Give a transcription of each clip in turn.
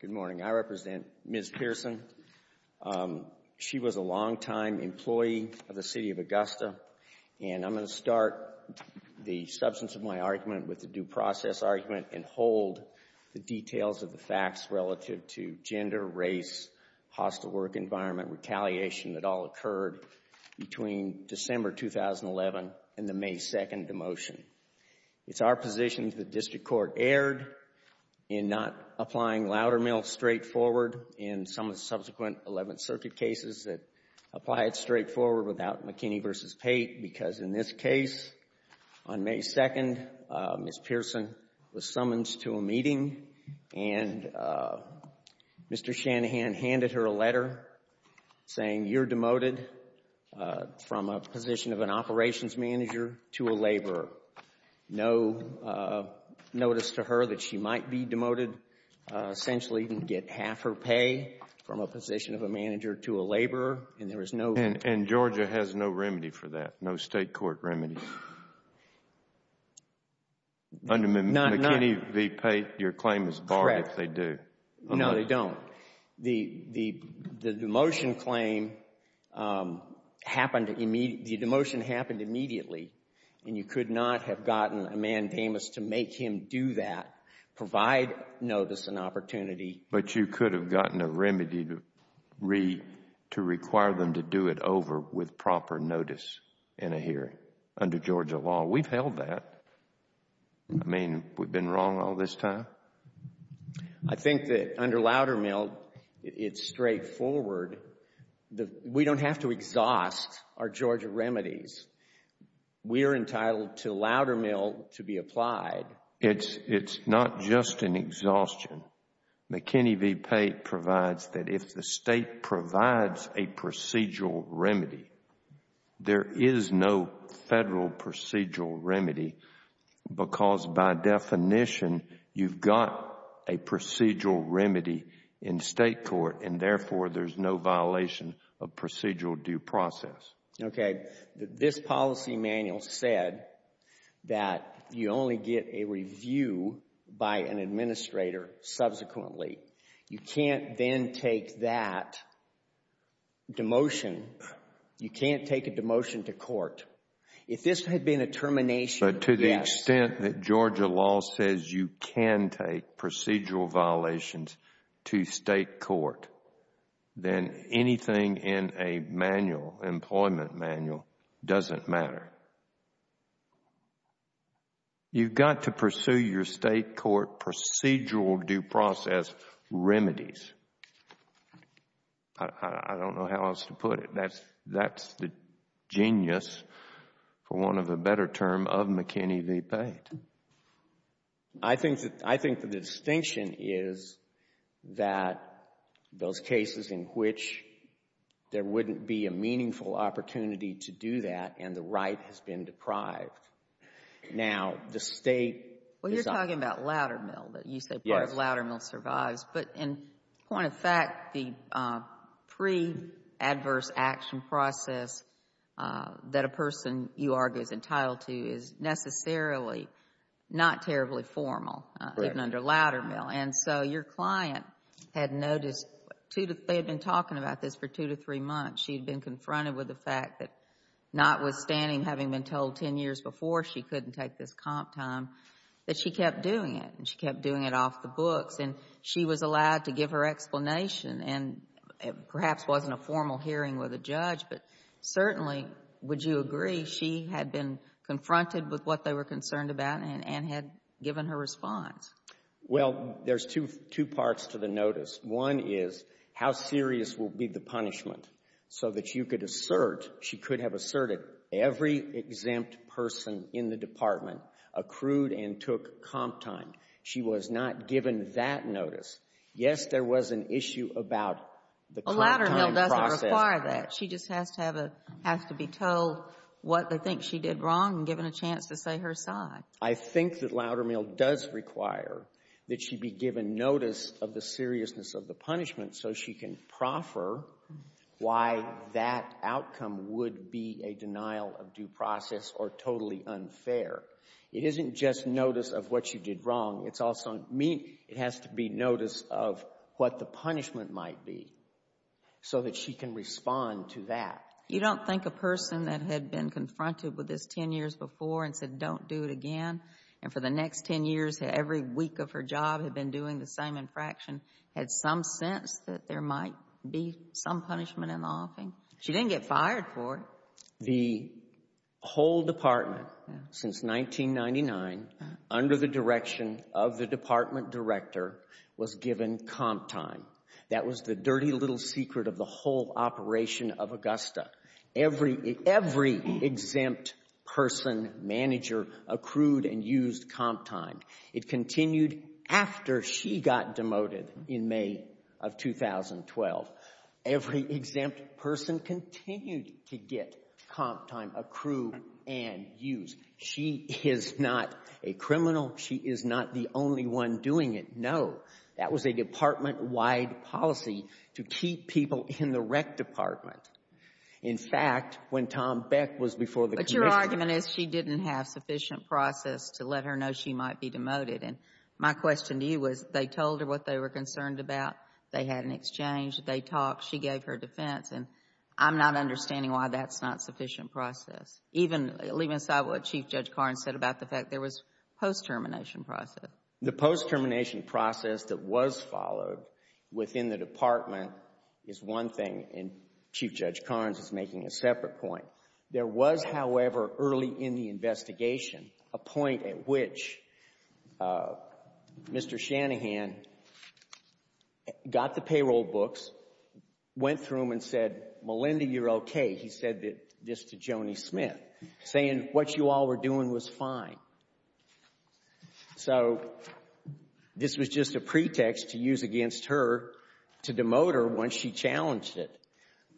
Good morning. I represent Ms. Pearson. She was a long-time employee of the City of Augusta and I'm going to start the substance of my argument with the due process argument and the retaliation that all occurred between December 2011 and the May 2nd demotion. It's our position that the District Court erred in not applying Loudermill straightforward in some of the subsequent 11th Circuit cases that applied straightforward without McKinney v. Pate because in this case on May 2nd, Ms. Pearson was summoned to a meeting and Mr. Shanahan handed her a letter saying you're demoted from a position of an operations manager to a laborer. No notice to her that she might be demoted. Essentially, you can get half her pay from a position of a manager to a laborer and there was no And Georgia has no remedy for that, no State Court remedy. Under McKinney v. Pate, your The demotion claim happened, the demotion happened immediately and you could not have gotten a mandamus to make him do that, provide notice and opportunity But you could have gotten a remedy to require them to do it over with proper notice in a hearing under Georgia law. We've held that. I mean, we've been wrong all this time? I think that under Loudermill, it's straightforward. We don't have to exhaust our Georgia remedies. We're entitled to Loudermill to be applied. It's not just an exhaustion. McKinney v. Pate provides that if the State provides a procedural remedy, because by definition, you've got a procedural remedy in State court and therefore there's no violation of procedural due process. Okay, this policy manual said that you only get a review by an administrator subsequently. You can't then take that demotion, you can't take demotion to court. If this had been a termination, yes. But to the extent that Georgia law says you can take procedural violations to State court, then anything in a manual, employment manual, doesn't matter. You've got to pursue your State court procedural due process remedies. I don't know how else to put it. That's the genius, for want of a better term, of McKinney v. Pate. I think the distinction is that those cases in which there wouldn't be a meaningful opportunity to do that and the right has been deprived. Now, the State is talking about Loudermill, that you say part of Loudermill survives. But in point of fact, the pre-adverse action process that a person, you argue, is entitled to is necessarily not terribly formal, even under Loudermill. And so your client had noticed, they had been talking about this for two to three months. She had been confronted with the fact that notwithstanding having been told 10 years before she couldn't take this comp time, that she kept doing it and she kept doing it off the books. And she was allowed to give her explanation. And it perhaps wasn't a formal hearing with a judge, but certainly, would you agree, she had been confronted with what they were concerned about and had given her response? Well, there's two parts to the notice. One is how serious will be the punishment so that you could assert, she could have asserted, every exempt person in the department accrued and took comp time. She was not given that notice. Yes, there was an issue about the comp time process. Well, Loudermill doesn't require that. She just has to be told what they think she did wrong and given a chance to say her side. I think that Loudermill does require that she be given notice of the seriousness of the punishment so she can proffer why that outcome would be a denial of due process or totally unfair. It isn't just notice of what she did wrong. It's also mean it has to be notice of what the punishment might be so that she can respond to that. You don't think a person that had been confronted with this 10 years before and said, don't do it again. And for the next 10 years, every week of her job had been doing the same infraction, had some sense that there might be some punishment in the offing? She didn't get fired for it. The whole department since 1999, under the direction of the department director, was given comp time. That was the dirty little secret of the whole operation of Augusta. Every exempt person, manager accrued and used comp time. It continued after she got demoted in May of 2012. Every exempt person continued to get comp time, accrue and use. She is not a criminal. She is not the only one doing it. No. That was a department-wide policy to keep people in the rec department. In fact, when Tom Beck was before the commission. But your argument is she didn't have sufficient process to let her know she might be demoted. And my question to you was, they told her what they were concerned about. They had an exchange. They talked. She gave her defense. And I'm not understanding why that's not sufficient process. Even leaving aside what Chief Judge Carnes said about the fact there was post-termination process. The post-termination process that was followed within the department is one thing, and Chief Judge Carnes is making a separate point. There was, however, early in the investigation, a point at which Mr. Shanahan got the payroll books, went through them and said, Melinda, you're okay. He said this to Joni Smith, saying what you all were doing was fine. So this was just a pretext to use against her to demote her once she challenged it.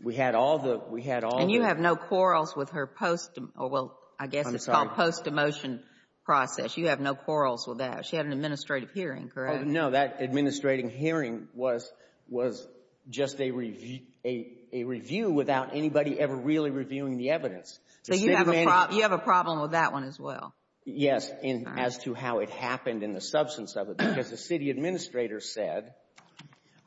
We had all the, we had all the. And you have no quarrels with her post, well, I guess it's called post-demotion process. You have no quarrels with that. She had an administrative hearing, correct? No, that administrative hearing was just a review without anybody ever really reviewing the evidence. So you have a problem with that one as well? Yes, as to how it happened and the substance of it. Because the city administrator said,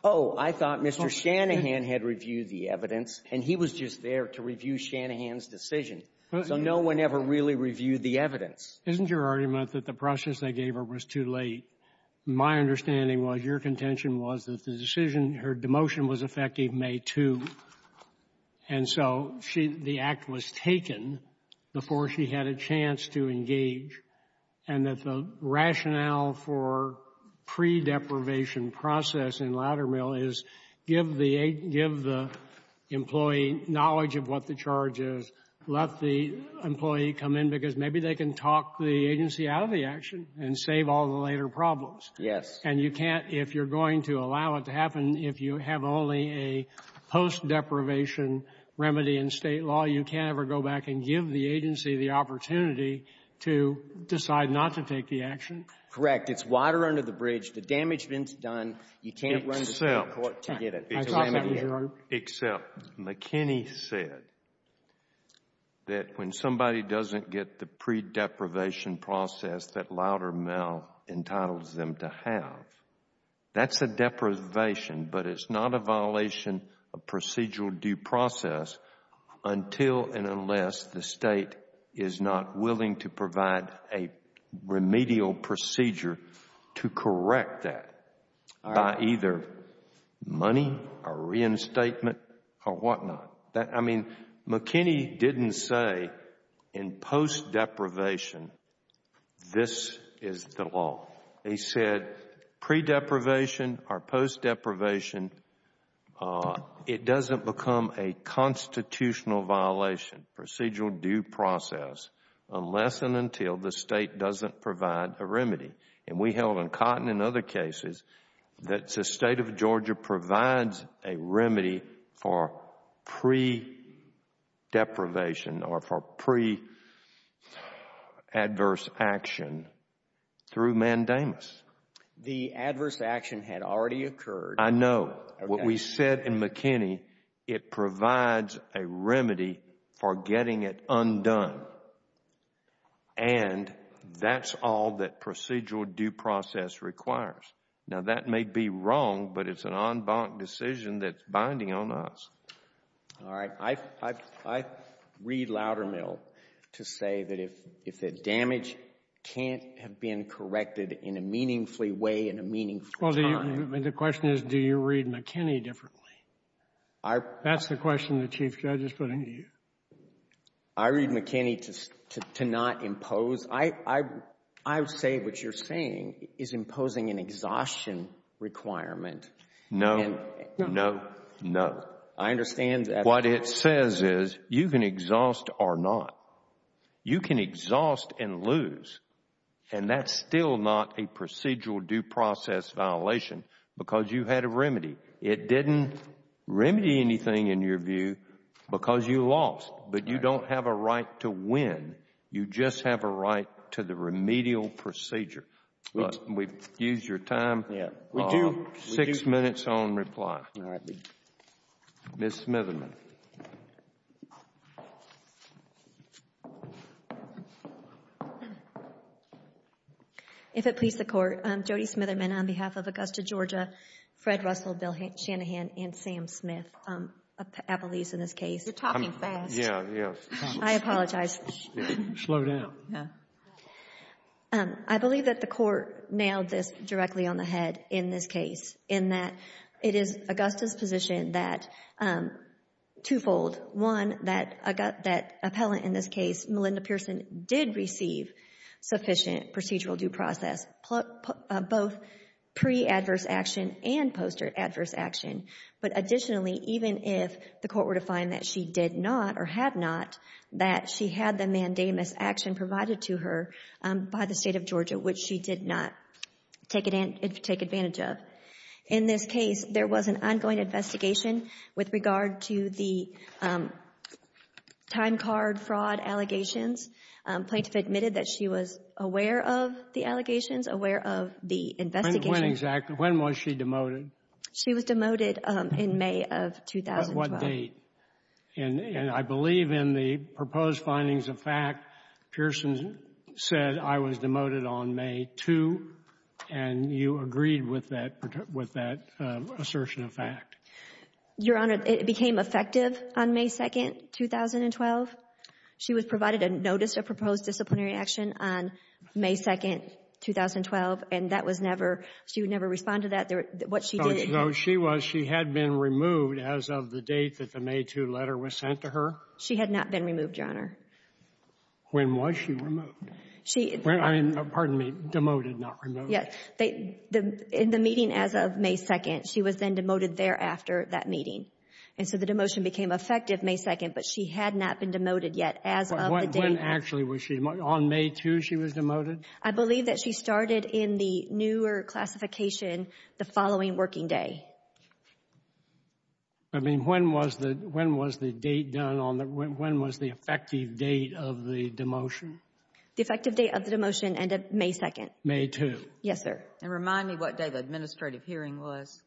oh, I thought Mr. Shanahan had reviewed the evidence, and he was just there to review Shanahan's decision. So no one ever really reviewed the evidence. Isn't your argument that the process they gave her was too late? My understanding was your contention was that the decision, her demotion was effective May 2, and so the act was taken before she had a chance to engage, and that the rationale for pre-deprivation process in Loudermill is give the employee knowledge of what the charge is, let the employee come in, because maybe they can talk the agency out of the action and save all the later problems. Yes. And you can't, if you're going to allow it to happen, if you have only a post-deprivation remedy in State law, you can't ever go back and give the agency the opportunity to decide not to take the action? Correct. It's water under the bridge. The damage has been done. You can't run to the court to get it. Except McKinney said that when somebody doesn't get the pre-deprivation process that Loudermill entitles them to have, that's a deprivation, but it's not a violation of procedural due process until and unless the State is not willing to provide a remedial procedure to correct that by either money or reinstatement or whatnot. I mean, McKinney didn't say in post-deprivation, this is the law. He said pre-deprivation or post-deprivation, it doesn't become a constitutional violation, procedural due process, unless and until the State doesn't provide a remedy. And we held on cotton in other cases that the State of Georgia provides a remedy for pre-deprivation or for pre-adverse action through mandamus. The adverse action had already occurred. I know. What we said in McKinney, it provides a remedy for getting it undone. And that's all that procedural due process requires. Now, that may be wrong, but it's an en banc decision that's binding on us. All right. I, I, I read Loudermill to say that if, if the damage can't have been corrected in a meaningfully way in a meaningful time. Well, do you, the question is, do you read McKinney differently? That's the question the Chief Judge is putting to you. I read McKinney to, to, to not impose. I, I, I would say what you're saying is imposing an exhaustion requirement. No, no, no. I understand that. What it says is you can exhaust or not. You can exhaust and lose. And that's still not a procedural due process violation because you had a remedy. It didn't remedy anything in your view because you lost. But you don't have a right to win. You just have a right to the remedial procedure. We've used your time. Yeah, we do. Six minutes on reply. All right. Ms. Smitherman. If it please the Court, Jody Smitherman on behalf of Augusta, Georgia, Fred Russell, Bill Shanahan, and Sam Smith of Appalachia in this case. You're talking fast. Yeah, yeah. I apologize. Slow down. Yeah. I believe that the Court nailed this directly on the head in this case in that it is Augusta's position that twofold, one, that appellant in this case, Melinda Pearson, did receive sufficient procedural due process, both pre-adverse action and post-adverse action. But additionally, even if the Court were to find that she did not or had not, that she had the mandamus action provided to her by the State of Georgia, which she did not take advantage of. In this case, there was an ongoing investigation with regard to the time card fraud allegations. Plaintiff admitted that she was aware of the allegations, aware of the investigation. When exactly? When was she demoted? She was demoted in May of 2012. What date? And I believe in the proposed findings of fact, Pearson said, I was demoted on May 2, and you agreed with that assertion of fact. Your Honor, it became effective on May 2, 2012. She was provided a notice of proposed disciplinary action on May 2, 2012, and that was never, she would never respond to that, what she did. So she was, she had been removed as of the date that the May 2 letter was sent to her? She had not been removed, Your Honor. When was she removed? I mean, pardon me, demoted, not removed. Yes, in the meeting as of May 2, she was then demoted thereafter that meeting. And so the demotion became effective May 2, but she had not been demoted yet as of the date. When actually was she, on May 2 she was demoted? I believe that she started in the newer classification the following working day. I mean, when was the, when was the date done on the, when was the effective date of the demotion? The effective date of the demotion ended May 2. May 2. Yes, sir. And remind me what day the administrative hearing was.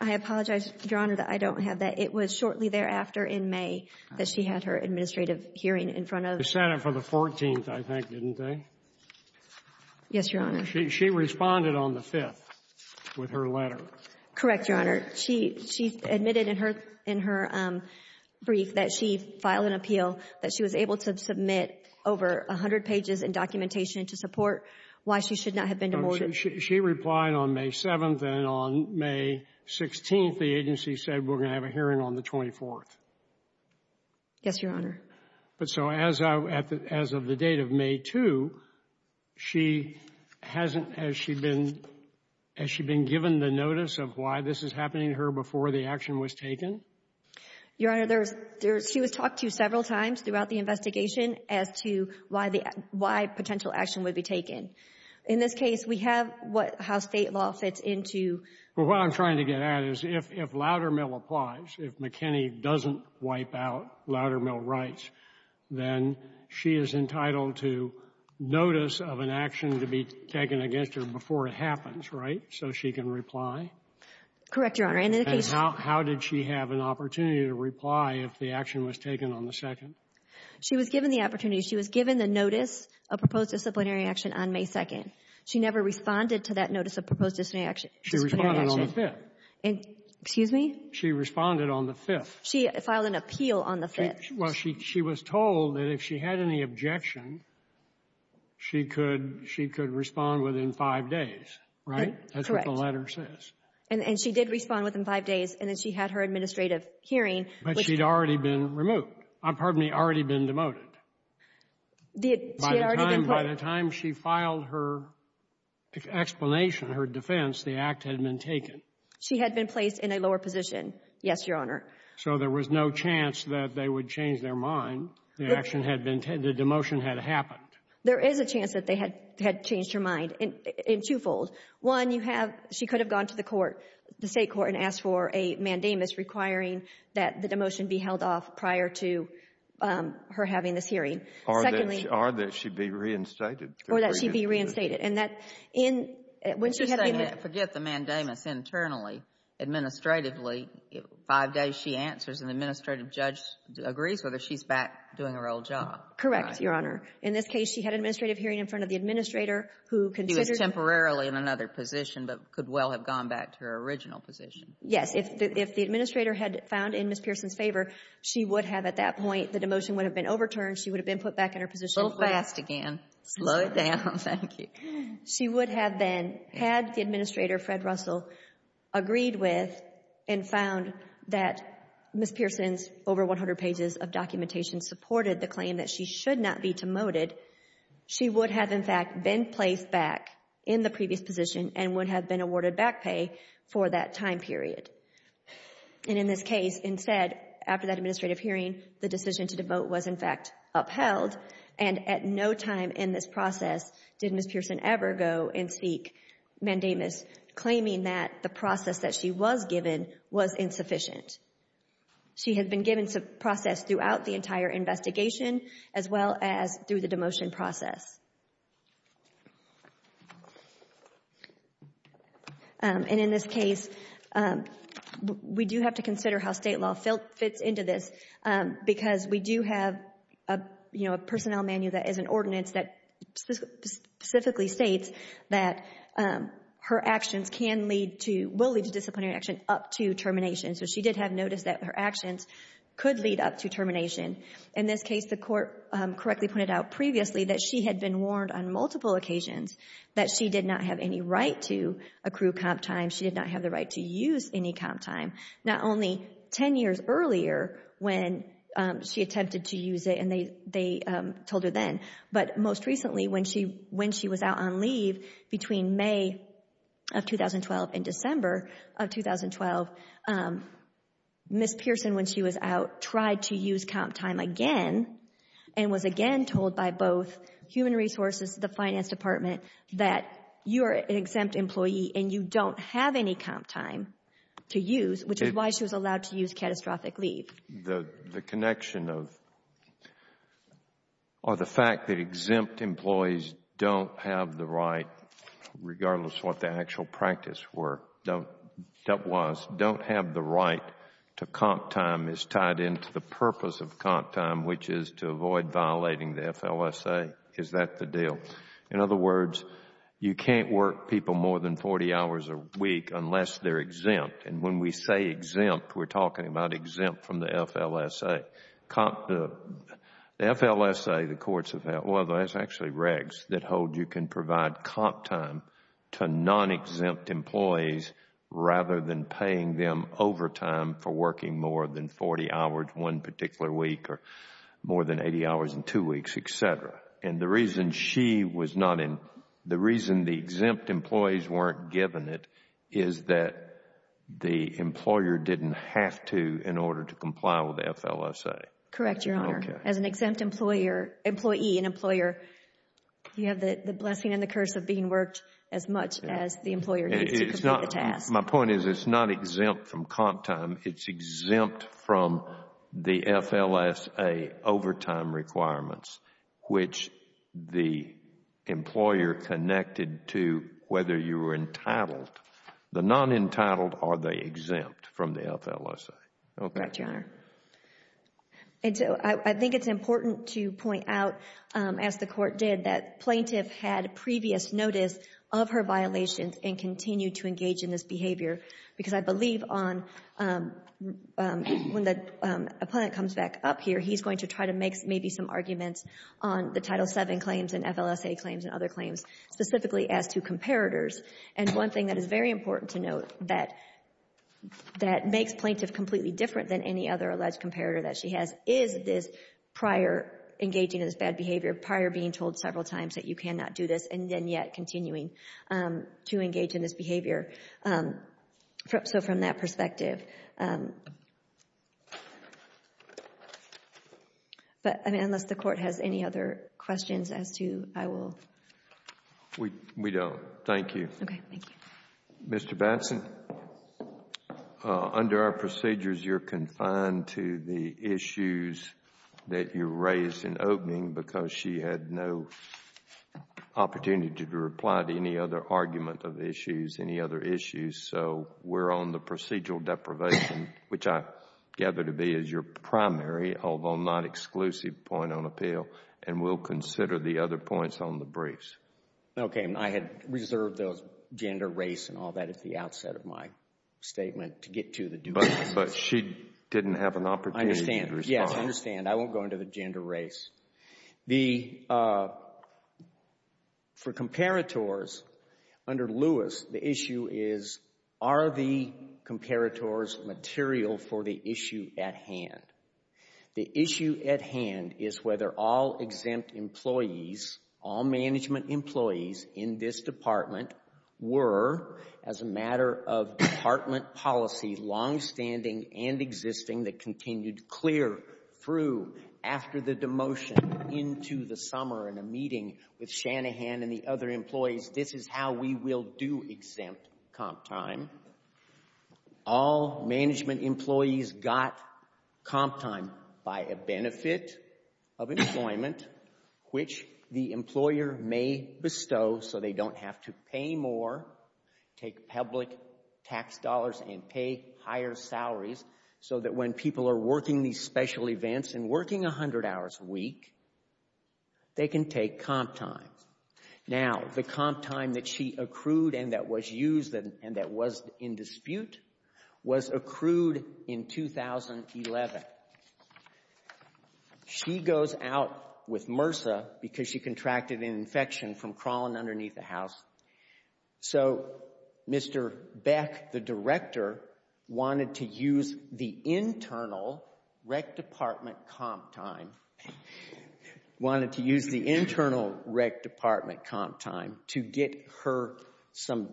I apologize, Your Honor, that I don't have that. It was shortly thereafter in May that she had her administrative hearing in front of the Senate. The Senate for the 14th, I think, didn't they? Yes, Your Honor. She responded on the 5th with her letter. Correct, Your Honor. She, she admitted in her, in her brief that she filed an appeal, that she was able to submit over 100 pages in documentation to support why she should not have been demoted. She replied on May 7, and on May 16, the agency said, we're going to have a hearing on the 24th. Yes, Your Honor. But so as of, as of the date of May 2, she hasn't, has she been, has she been given the notice of why this is happening to her before the action was taken? Your Honor, there's, there's, she was talked to several times throughout the investigation as to why the, why potential action would be taken. In this case, we have what, how state law fits into. Well, what I'm trying to get at is if, if Loudermill applies, if McKinney doesn't wipe out Loudermill rights, then she is entitled to notice of an action to be taken against her before it happens, right? So she can reply. Correct, Your Honor. How did she have an opportunity to reply if the action was taken on the 2nd? She was given the opportunity. She was given the notice of proposed disciplinary action on May 2nd. She never responded to that notice of proposed disciplinary action. She responded on the 5th. And, excuse me? She responded on the 5th. She filed an appeal on the 5th. Well, she, she was told that if she had any objection, she could, she could respond within five days, right? That's what the letter says. And, and she did respond within five days. And then she had her administrative hearing. But she'd already been removed. Pardon me. Already been demoted. By the time she filed her explanation, her defense, the act had been taken. She had been placed in a lower position. Yes, Your Honor. So there was no chance that they would change their mind. The action had been, the demotion had happened. There is a chance that they had, had changed her mind in, in twofold. One, you have, she could have gone to the court, the state court, and asked for a mandamus requiring that the demotion be held off prior to her having this hearing. Secondly. Or that she be reinstated. Or that she be reinstated. And that in, when she had been. Forget the mandamus internally. Administratively, five days she answers, and the administrative judge agrees whether she's back doing her old job. Correct, Your Honor. In this case, she had an administrative hearing in front of the administrator who considered. She was temporarily in another position, but could well have gone back to her original position. Yes. If, if the administrator had found in Ms. Pearson's favor, she would have, at that point, the demotion would have been overturned. She would have been put back in her position. Go fast again. Slow it down. Thank you. She would have been, had the administrator, Fred Russell, agreed with and found that Ms. Pearson's over 100 pages of documentation supported the claim that she should not be demoted, she would have, in fact, been placed back in the previous position and would have been awarded back pay for that time period. And in this case, instead, after that administrative hearing, the decision to demote was, in fact, upheld. And at no time in this process did Ms. Pearson ever go and seek mandamus, claiming that the process that she was given was insufficient. She had been given some process throughout the entire investigation, as well as through the demotion process. And in this case, we do have to consider how state law fits into this, because we do have a, you know, a personnel manual that is an ordinance that specifically states that her actions can lead to, will lead to disciplinary action up to termination. So she did have notice that her actions could lead up to termination. In this case, the court correctly pointed out previously that she had been warned on multiple occasions that she did not have any right to accrue comp time. She did not have the right to use any comp time, not only 10 years earlier when she attempted to use it and they told her then, but most recently when she was out on leave between May of 2012 and December of 2012, Ms. Pearson, when she was out, tried to use comp time again and was again told by both human resources, the finance department, that you are an exempt employee and you don't have any comp time to use, which is why she was allowed to use catastrophic leave. The connection of, or the fact that exempt employees don't have the right, regardless of what the actual practice was, don't have the right to comp time is tied into the purpose of comp time, which is to avoid violating the FLSA. Is that the deal? In other words, you can't work people more than 40 hours a week unless they are exempt and when we say exempt, we are talking about exempt from the FLSA. The FLSA, the courts have said, well, that is actually regs that hold you can provide comp time to non-exempt employees rather than paying them overtime for working more than 40 hours one particular week or more than 80 hours in two weeks, et cetera. The reason she was not, the reason the exempt employees weren't given it is that the employer didn't have to in order to comply with the FLSA. Correct, Your Honor. As an exempt employer, employee and employer, you have the blessing and the curse of being worked as much as the employer needs to complete the task. My point is it is not exempt from comp time. It is exempt from the FLSA overtime requirements, which the employer connected to whether you were entitled. The non-entitled are they exempt from the FLSA? Correct, Your Honor. I think it is important to point out, as the Court did, that plaintiff had previous notice of her violations and continued to engage in this behavior. Because I believe on, when the appellant comes back up here, he is going to try to make maybe some arguments on the Title VII claims and FLSA claims and other claims, specifically as to comparators. And one thing that is very important to note that makes plaintiff completely different than any other alleged comparator that she has is this prior engaging in this bad behavior, prior being told several times that you cannot do this and then yet continuing to engage in this behavior. So from that perspective. But unless the Court has any other questions as to, I will. We don't. Thank you. Mr. Batson, under our procedures, you are confined to the issues that you raised in reply to any other argument of issues, any other issues. So we are on the procedural deprivation, which I gather to be is your primary, although not exclusive, point on appeal. And we will consider the other points on the briefs. Okay. I had reserved those gender, race and all that at the outset of my statement to get to the due process. But she didn't have an opportunity to respond. Yes, I understand. I won't go into the gender, race. The, for comparators, under Lewis, the issue is, are the comparators material for the issue at hand? The issue at hand is whether all exempt employees, all management employees in this department were, as a matter of department policy, longstanding and existing that demotion into the summer in a meeting with Shanahan and the other employees, this is how we will do exempt comp time. All management employees got comp time by a benefit of employment, which the employer may bestow so they don't have to pay more, take public tax dollars and pay higher salaries so that when people are working these special events and working 100 hours a week, they can take comp time. Now, the comp time that she accrued and that was used and that was in dispute was accrued in 2011. She goes out with MRSA because she contracted an infection from crawling underneath the house. So, Mr. Beck, the director, wanted to use the internal rec department comp time, wanted to use the internal rec department comp time to get her some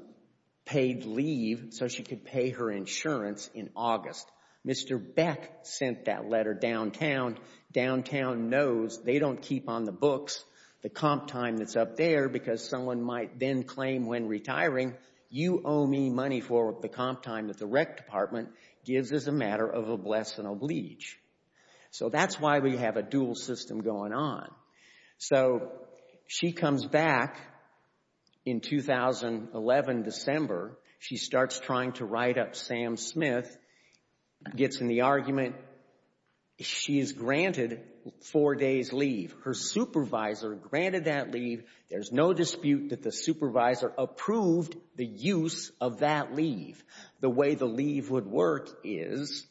paid leave so she could pay her insurance in August. Mr. Beck sent that letter downtown. Downtown knows they don't keep on the books the comp time that's up there because someone might then claim when retiring, you owe me money for the comp time that the rec department gives as a matter of a blessing oblige. So, that's why we have a dual system going on. So, she comes back in 2011 December. She starts trying to write up Sam Smith, gets in the argument. She is granted four days leave. Her supervisor granted that leave. There's no dispute that the supervisor approved the use of that leave. The way the leave would work is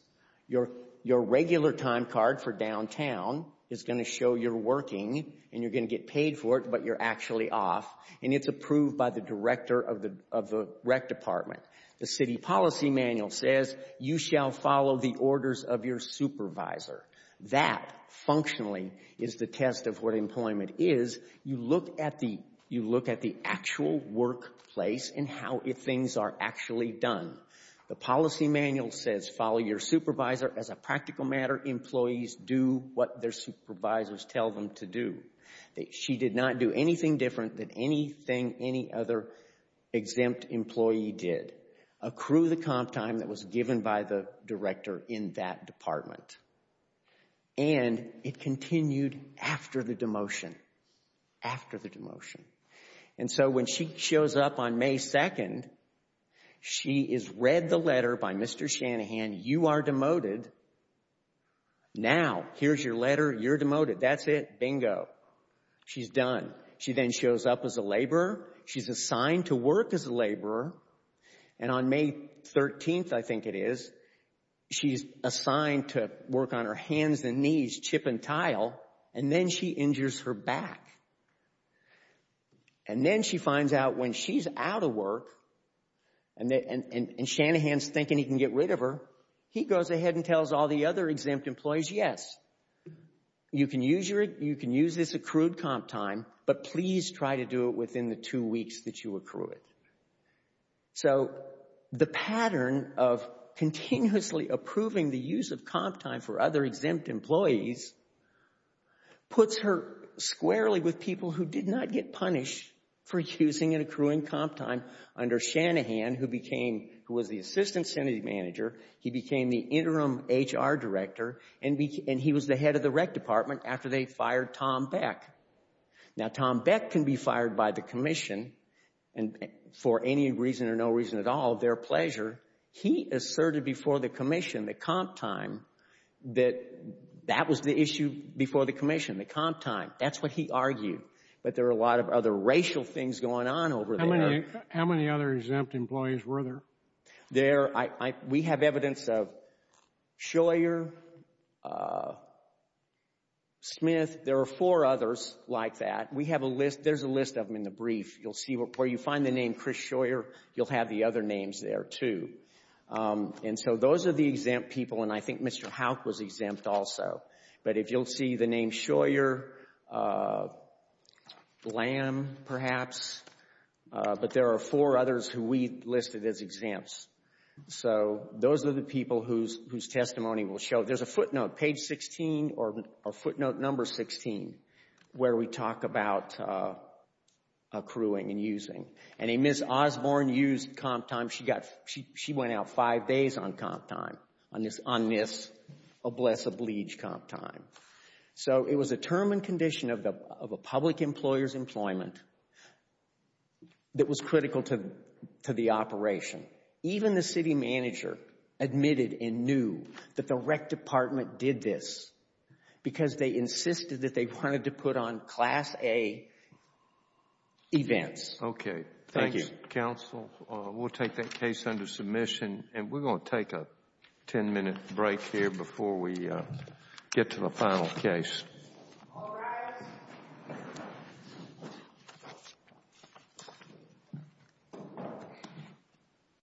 your regular time card for downtown is going to show you're working and you're going to get paid for it but you're actually off and it's approved by the director of the rec department. The city policy manual says you shall follow the orders of your supervisor. That, functionally, is the test of what employment is. You look at the actual workplace and how things are actually done. The policy manual says follow your supervisor as a practical matter. Employees do what their supervisors tell them to do. She did not do anything different than anything any other exempt employee did. Accrue the comp time that was given by the director in that department. And it continued after the demotion. After the demotion. And so when she shows up on May 2nd, she is read the letter by Mr. Shanahan. You are demoted. Now, here's your letter. You're demoted. That's it. Bingo. She's done. She then shows up as a laborer. She's assigned to work as a laborer. And on May 13th, I think it is, she's assigned to work on her hands and knees, chip and tile. And then she injures her back. And then she finds out when she's out of work and Shanahan's thinking he can get rid of her, he goes ahead and tells all the other exempt employees, yes, you can use this accrued comp time, but please try to do it within the two weeks that you accrue it. So the pattern of continuously approving the use of comp time for other exempt employees puts her squarely with people who did not get punished for using an accruing comp time under Shanahan, who became, who was the assistant sanity manager. He became the interim HR director and he was the head of the rec department after they fired Tom Beck. Now, Tom Beck can be fired by the commission and for any reason or no reason at all of their pleasure. He asserted before the commission, the comp time, that that was the issue before the commission, the comp time. That's what he argued. But there are a lot of other racial things going on over there. How many other exempt employees were there? There, we have evidence of Shoyer, Smith. There are four others like that. We have a list. There's a list of them in the brief. You'll see where you find the name Chris Shoyer, you'll have the other names there too. And so those are the exempt people. And I think Mr. Houck was exempt also. But if you'll see the name Shoyer, Lamb perhaps. But there are four others who we listed as exempts. So those are the people whose testimony will show. There's a footnote, page 16 or footnote number 16, where we talk about accruing and using. And a Ms. Osborne used comp time. She went out five days on comp time, on this, oh bless a bleach, comp time. So it was a term and condition of a public employer's employment that was critical to the operation. Even the city manager admitted and knew that the rec department did this because they insisted that they wanted to put on class A events. Okay. Thank you. Counsel, we'll take that case under submission. And we're going to take a 10 minute break here before we get to the final case.